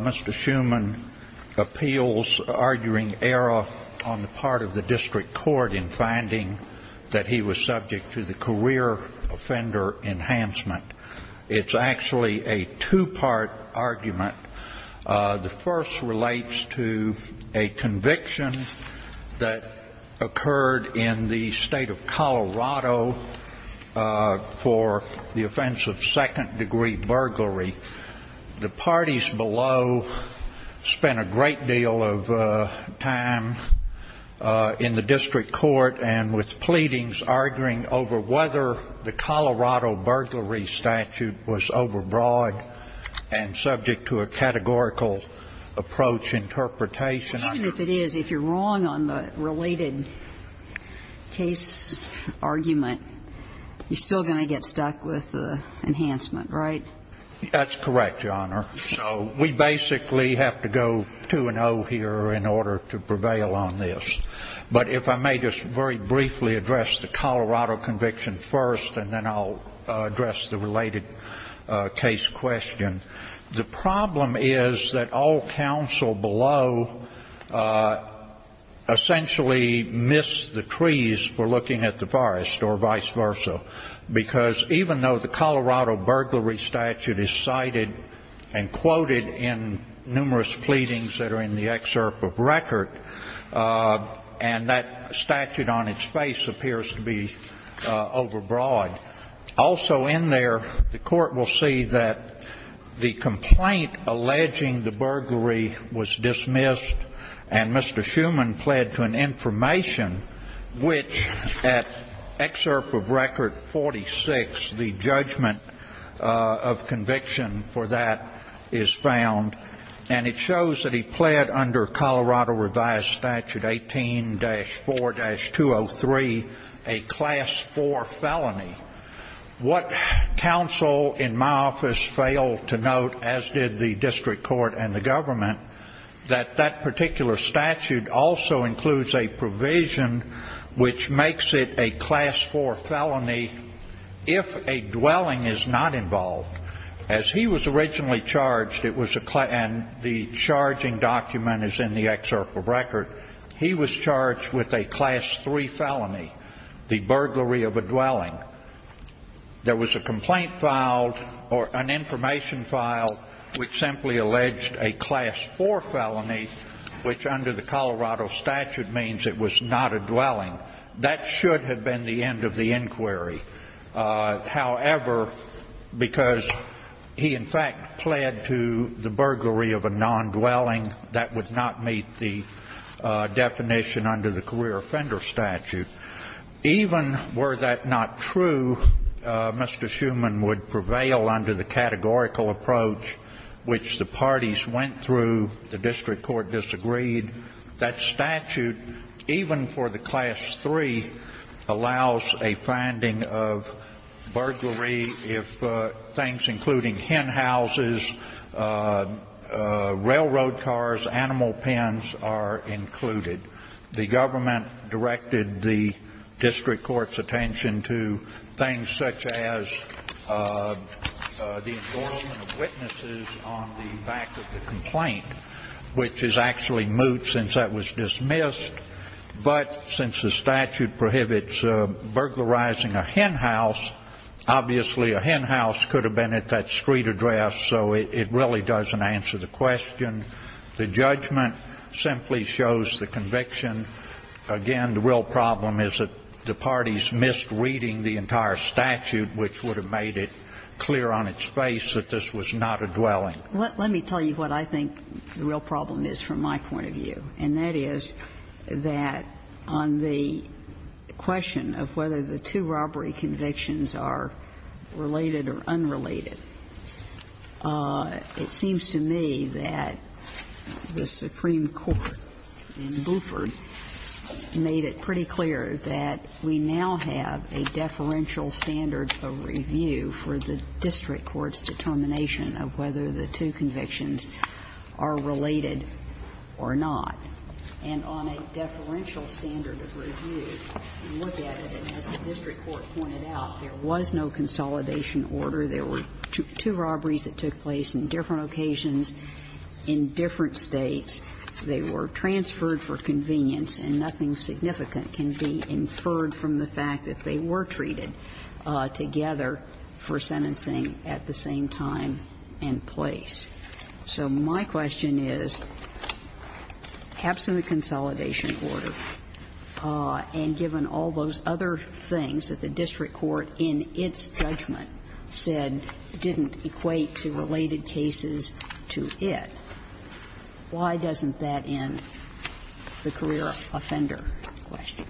Mr. Schumann appeals arguing Aeroff on the part of the district court in finding that he was subject to the career offender enhancement. It's actually a two-part argument. The first relates to a conviction that occurred in the state of Colorado for the offense of second-degree burglary. The parties below spent a great deal of time in the district court and with pleadings arguing over whether the Colorado burglary statute was overbroad and subject to a categorical approach interpretation. Even if it is, if you're wrong on the related case argument, you're still going to get stuck with enhancement, right? That's correct, Your Honor. So we basically have to go 2-0 here in order to prevail on this. But if I may just very briefly address the Colorado conviction first, and then I'll address the related case question. The problem is that all counsel below essentially missed the trees for looking at the forest or vice versa, because even though the Colorado burglary statute is cited and quoted in numerous pleadings that are in the excerpt of record, and that statute on its face appears to be overbroad, also in there the court will see that the complaint alleging the burglary was dismissed and Mr. Schuman pled to an information which at excerpt of record 46, the judgment of conviction for that is found. And it shows that he pled under Colorado revised statute 18-4-203 a class 4 felony. What counsel in my office failed to note, as did the district court and the government, that that particular statute also includes a provision which makes it a class 4 felony if a dwelling is not involved. As he was originally charged, and the charging document is in the excerpt of record, he was charged with a class 3 felony, the burglary of a dwelling. There was a complaint filed or an information filed which simply alleged a class 4 felony, which under the Colorado statute means it was not a dwelling. That should have been the end of the inquiry. However, because he in fact pled to the burglary of a non-dwelling, that would not meet the definition under the career offender statute. Even were that not true, Mr. Schuman would prevail under the categorical approach which the parties went through. The district court disagreed. That statute, even for the class 3, allows a finding of burglary if things including hen houses, railroad cars, animal pens are included. The government directed the district court's attention to things such as the assortment of witnesses on the back of the complaint, which is actually moot since that was dismissed. But since the statute prohibits burglarizing a hen house, obviously a hen house could have been at that street address, so it really doesn't answer the question. The judgment simply shows the conviction. Again, the real problem is that the parties missed reading the entire statute, which would have made it clear on its face that this was not a dwelling. Let me tell you what I think the real problem is from my point of view, and that is that on the question of whether the two robbery convictions are related or unrelated, it seems to me that the Supreme Court in Bluford made it pretty clear that we now have a deferential standard of review for the district court's determination of whether the two convictions are related or not. And on a deferential standard of review, you look at it, and as the district court pointed out, there was no consolidation order. There were two robberies that took place in different occasions in different States. They were transferred for convenience, and nothing significant can be inferred from the fact that they were treated together for sentencing at the same time and place. So my question is, absent a consolidation order, and given all those other things that the district court in its judgment said didn't equate to related cases to it, why doesn't that end the career offender question?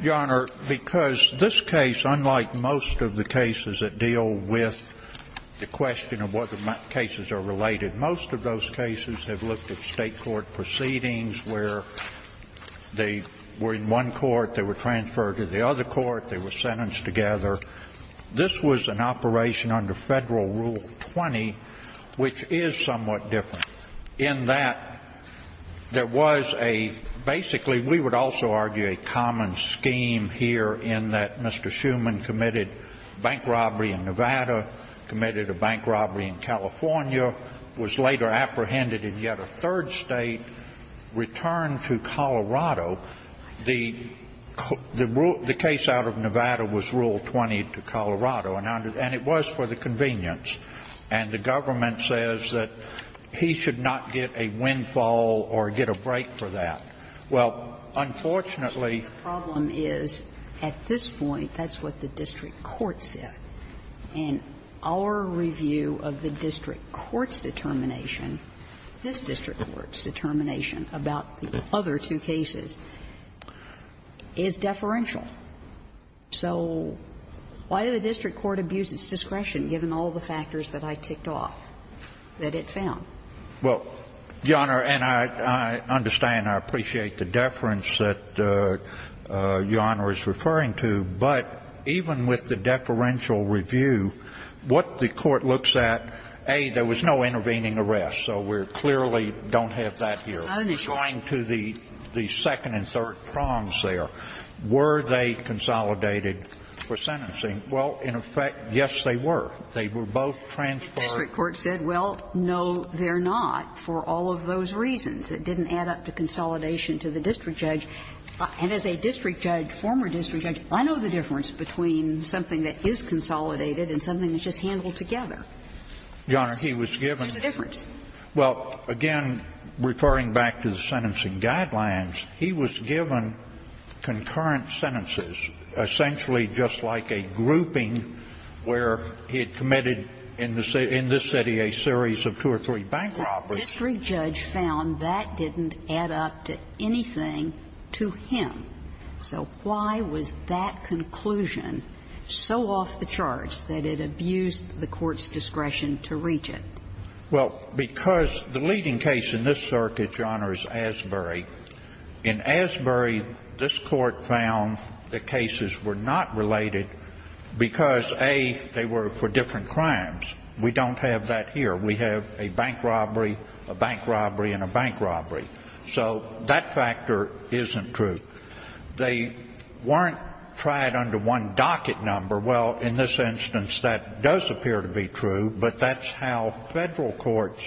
The Honor, because this case, unlike most of the cases that deal with the question of whether cases are related, most of those cases have looked at State court proceedings where they were in one court, they were transferred to the other court, they were sentenced together. This was an operation under Federal Rule 20, which is somewhat different, in that there was a basically, we would also argue, a common scheme here in that Mr. Schuman committed bank robbery in Nevada, committed a bank robbery in California, was later apprehended in yet a third State, returned to Colorado. The case out of Nevada was Rule 20 to Colorado, and it was for the convenience. And the government says that he should not get a windfall or get a break for that. Well, unfortunately the problem is at this point that's what the district court said. And our review of the district court's determination, this district court's determination about the other two cases, is deferential. So why did the district court abuse its discretion, given all the factors that I ticked off that it found? Well, Your Honor, and I understand, I appreciate the deference that Your Honor is referring to, but even with the deferential review, what the court looks at, A, there was no intervening arrest, so we clearly don't have that here. Going to the second and third prongs there, were they consolidated for sentencing? Well, in effect, yes, they were. They were both transparent. The district court said, well, no, they're not, for all of those reasons. It didn't add up to consolidation to the district judge. And as a district judge, former district judge, I know the difference between something that is consolidated and something that's just handled together. Yes, there's a difference. Well, again, referring back to the sentencing guidelines, he was given concurrent sentences, essentially just like a grouping where he had committed in this city a series of two or three bank robberies. The district judge found that didn't add up to anything to him, so why was that conclusion so off the charts that it abused the court's discretion to reach it? Well, because the leading case in this circuit, Your Honor, is Asbury. In Asbury, this court found the cases were not related because, A, they were for different crimes. We don't have that here. We have a bank robbery, a bank robbery, and a bank robbery. So that factor isn't true. They weren't tried under one docket number. Well, in this instance, that does appear to be true, but that's how federal courts,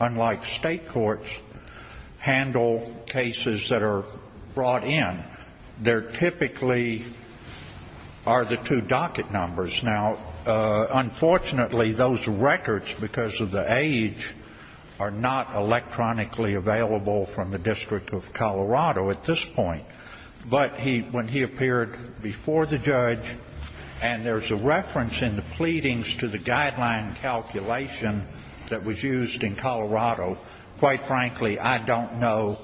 unlike state courts, handle cases that are brought in. There typically are the two docket numbers. Now, unfortunately, those records, because of the age, are not electronically available from the District of Colorado at this point. But when he appeared before the judge, and there's a reference in the pleadings to the guideline calculation that was used in Colorado, quite frankly, I don't know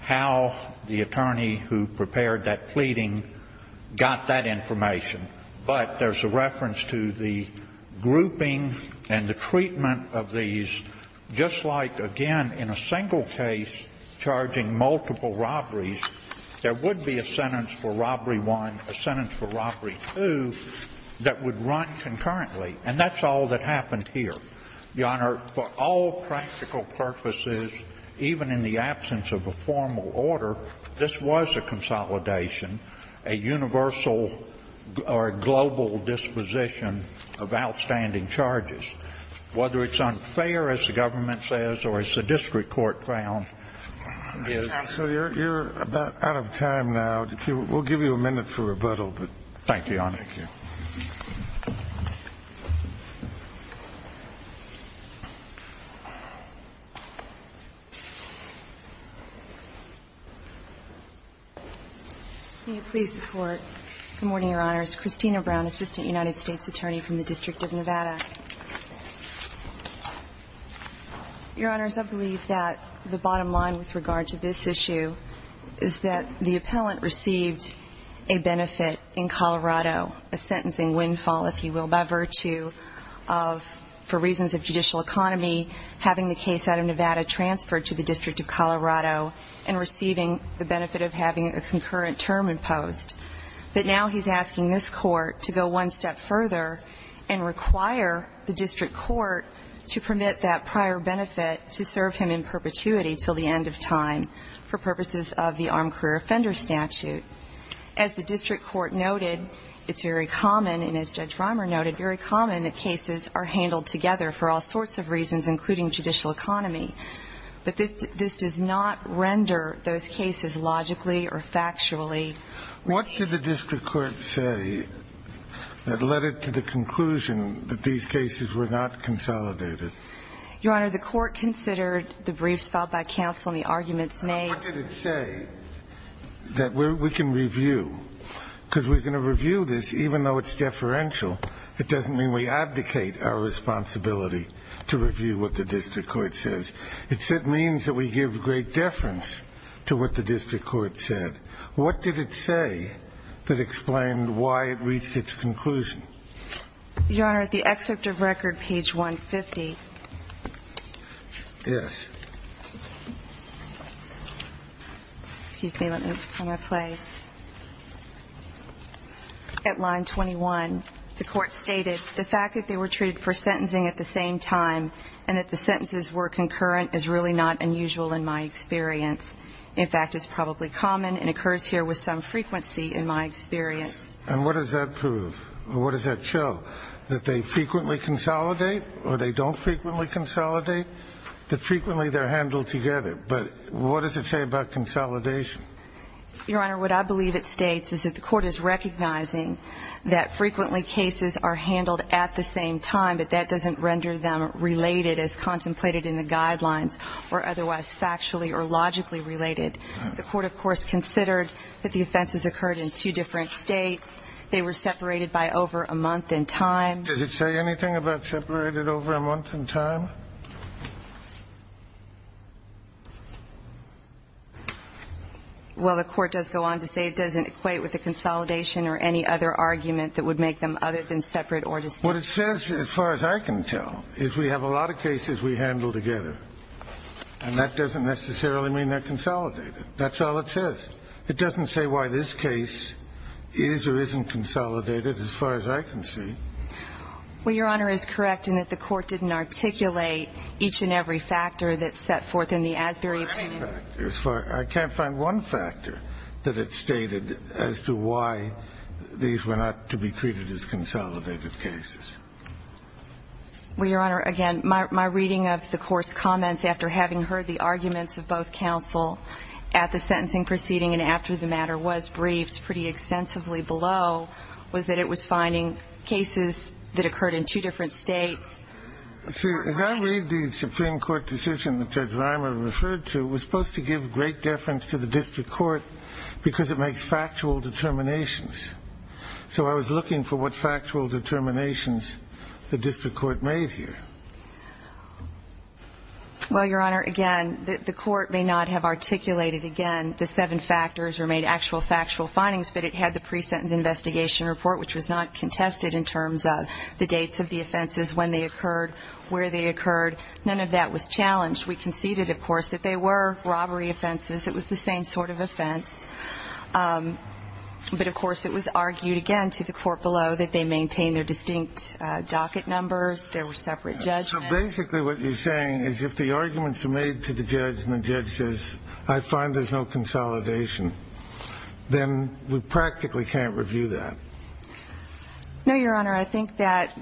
how the attorney who prepared that pleading got that information. But there's a reference to the grouping and the treatment of these, just like, again, in a single case charging multiple robberies, there would be a sentence for robbery one, a sentence for robbery two, that would run concurrently. And that's all that happened here. Your Honor, for all practical purposes, even in the absence of a formal order, this was a consolidation, a universal or global disposition of outstanding charges. Whether it's unfair, as the government says, or as the district court found, it is. So you're about out of time now. We'll give you a minute for rebuttal, but thank you, Your Honor. Thank you. May it please the Court. Good morning, Your Honors. Christina Brown, Assistant United States Attorney from the District of Nevada. Your Honors, I believe that the bottom line with regard to this issue is that the appellant received a benefit in Colorado, a sentencing windfall, if you will, by virtue of, for reasons of judicial economy, having the case out of Nevada transferred to the District of Colorado and receiving the benefit of having a concurrent term imposed. But now he's asking this Court to go one step further and require the district court to permit that prior benefit to serve him in perpetuity until the end of time for purposes of the armed career offender statute. As the district court noted, it's very common, and as Judge Reimer noted, very common that cases are handled together for all sorts of reasons, including judicial economy. But this does not render those cases logically or factually. What did the district court say that led it to the conclusion that these cases were not consolidated? Your Honor, the court considered the briefs filed by counsel and the arguments made. What did it say that we can review? Because we're going to review this even though it's deferential. It doesn't mean we abdicate our responsibility to review what the district court says. It means that we give great deference to what the district court said. What did it say that explained why it reached its conclusion? Your Honor, at the excerpt of record, page 150. Yes. Excuse me. Let me find my place. At line 21, the court stated, the fact that they were treated for sentencing at the same time and that the sentences were concurrent is really not unusual in my experience. In fact, it's probably common and occurs here with some frequency in my experience. And what does that prove? What does that show? That they frequently consolidate or they don't frequently consolidate? That frequently they're handled together. But what does it say about consolidation? Your Honor, what I believe it states is that the court is recognizing that frequently cases are handled at the same time, but that doesn't render them related as contemplated in the guidelines or otherwise factually or logically related. The court, of course, considered that the offenses occurred in two different states. They were separated by over a month in time. Does it say anything about separated over a month in time? Well, the court does go on to say it doesn't equate with a consolidation or any other argument that would make them other than separate or distinct. What it says, as far as I can tell, is we have a lot of cases we handle together. And that doesn't necessarily mean they're consolidated. That's all it says. It doesn't say why this case is or isn't consolidated, as far as I can see. Well, Your Honor, it's correct in that the court didn't articulate each and every factor that's set forth in the Asbury opinion. I can't find one factor that it stated as to why these were not to be treated as consolidated cases. Well, Your Honor, again, my reading of the court's comments after having heard the arguments of both counsel at the sentencing proceeding and after the matter was briefed pretty extensively below was that it was finding cases that occurred in two different states. See, as I read the Supreme Court decision that Judge Reimer referred to, it was supposed to give great deference to the district court because it makes factual determinations. So I was looking for what factual determinations the district court made here. Well, Your Honor, again, the court may not have articulated, again, the seven factors or made actual factual findings, but it had the pre-sentence investigation report, which was not contested in terms of the dates of the offenses, when they occurred, where they occurred. None of that was challenged. We conceded, of course, that they were robbery offenses. It was the same sort of offense. But, of course, it was argued, again, to the court below that they maintained their distinct docket numbers, there were separate judgments. So basically what you're saying is if the arguments are made to the judge and the judge says, I find there's no consolidation, then we practically can't review that. No, Your Honor. I think that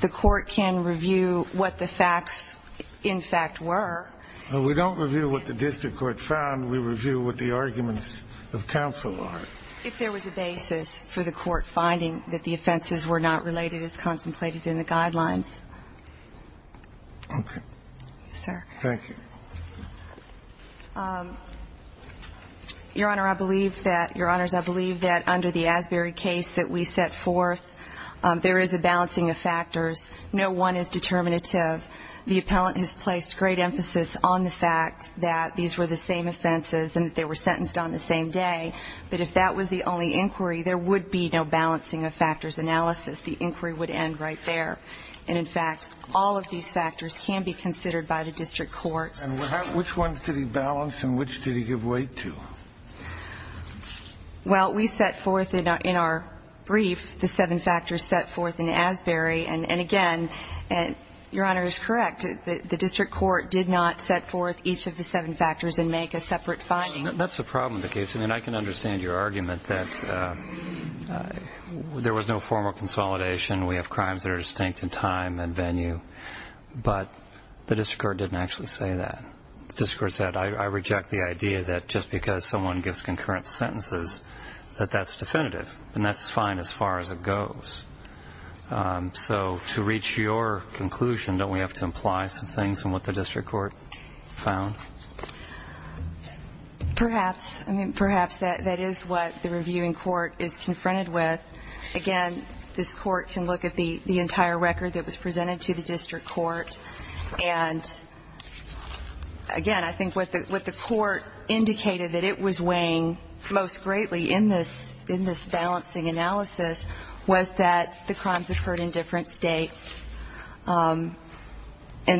the court can review what the facts, in fact, were. We don't review what the district court found. We review what the arguments of counsel are. If there was a basis for the court finding that the offenses were not related as contemplated in the guidelines. Okay. Yes, sir. Thank you. Your Honor, I believe that, Your Honors, I believe that under the Asbury case that we set forth, there is a balancing of factors. No one is determinative. The appellant has placed great emphasis on the fact that these were the same offenses and that they were sentenced on the same day. But if that was the only inquiry, there would be no balancing of factors analysis. The inquiry would end right there. And, in fact, all of these factors can be considered by the district court And which ones did he balance and which did he give weight to? Well, we set forth in our brief the seven factors set forth in Asbury. And, again, Your Honor is correct. The district court did not set forth each of the seven factors and make a separate finding. That's the problem with the case. I mean, I can understand your argument that there was no formal consolidation. We have crimes that are distinct in time and venue. But the district court didn't actually say that. The district court said, I reject the idea that just because someone gives concurrent sentences that that's definitive. And that's fine as far as it goes. So to reach your conclusion, don't we have to imply some things in what the district court found? Perhaps. I mean, perhaps that is what the reviewing court is confronted with. Again, this court can look at the entire record that was presented to the district court. And, again, I think what the court indicated that it was weighing most greatly in this balancing analysis was that the crimes occurred in different states. And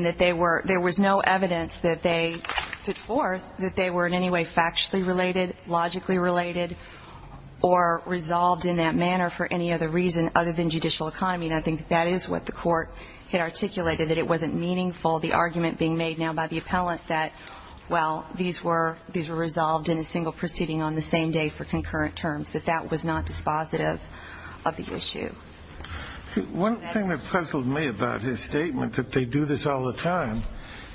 that there was no evidence that they put forth that they were in any way factually related, logically related, or resolved in that manner for any other reason other than judicial economy. And I think that is what the court had articulated, that it wasn't meaningful, the argument being made now by the appellant that, well, these were resolved in a single proceeding on the same day for concurrent terms, that that was not dispositive of the issue. One thing that puzzled me about his statement that they do this all the time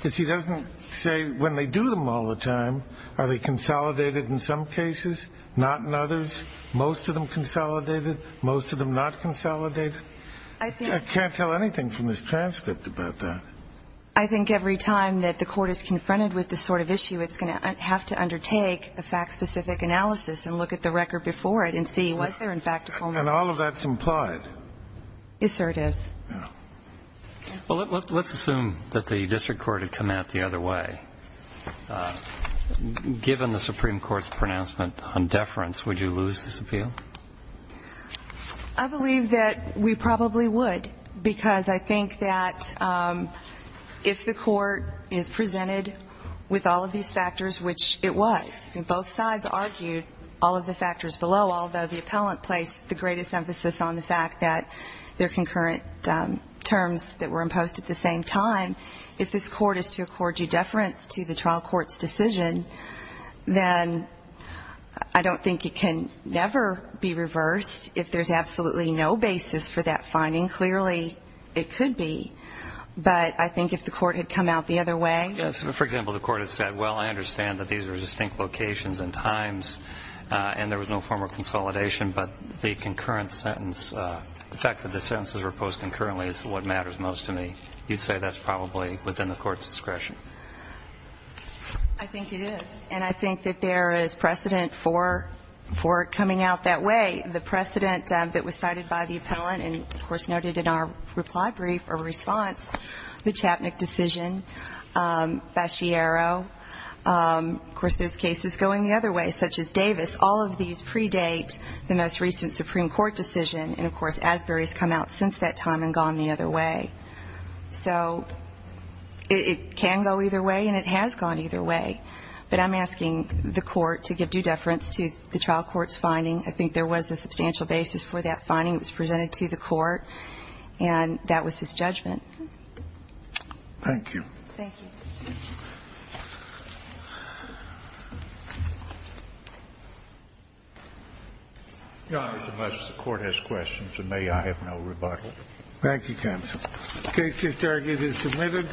is he doesn't say when they do them all the time, are they consolidated in some cases, not in others, most of them consolidated, most of them not consolidated. I can't tell anything from this transcript about that. I think every time that the court is confronted with this sort of issue, it's going to have to undertake a fact-specific analysis and look at the record before it and see was there, in fact, a culmination. And all of that is implied. Yes, sir, it is. Well, let's assume that the district court had come out the other way. Given the Supreme Court's pronouncement on deference, would you lose this appeal? I believe that we probably would because I think that if the court is presented with all of these factors, which it was, and both sides argued all of the factors below, although the appellant placed the greatest emphasis on the fact that they're concurrent terms that were imposed at the same time, if this court is to accord you deference to the trial court's decision, then I don't think it can never be reversed if there's absolutely no basis for that finding. Clearly, it could be. But I think if the court had come out the other way. Yes, for example, the court had said, well, I understand that these are distinct locations and times and there was no form of consolidation, but the concurrent sentence, the fact that the sentences were imposed concurrently is what matters most to me. You'd say that's probably within the court's discretion. I think it is. And I think that there is precedent for it coming out that way. The precedent that was cited by the appellant and, of course, noted in our reply brief or response, the Chapnick decision, Baciero. Of course, there's cases going the other way, such as Davis. All of these predate the most recent Supreme Court decision, and, of course, Asbury's come out since that time and gone the other way. So it can go either way, and it has gone either way. But I'm asking the court to give due deference to the trial court's finding. I think there was a substantial basis for that finding. It was presented to the court, and that was his judgment. Thank you. Thank you. Your Honor, unless the court has questions of me, I have no rebuttal. Thank you, counsel. Case to target is submitted.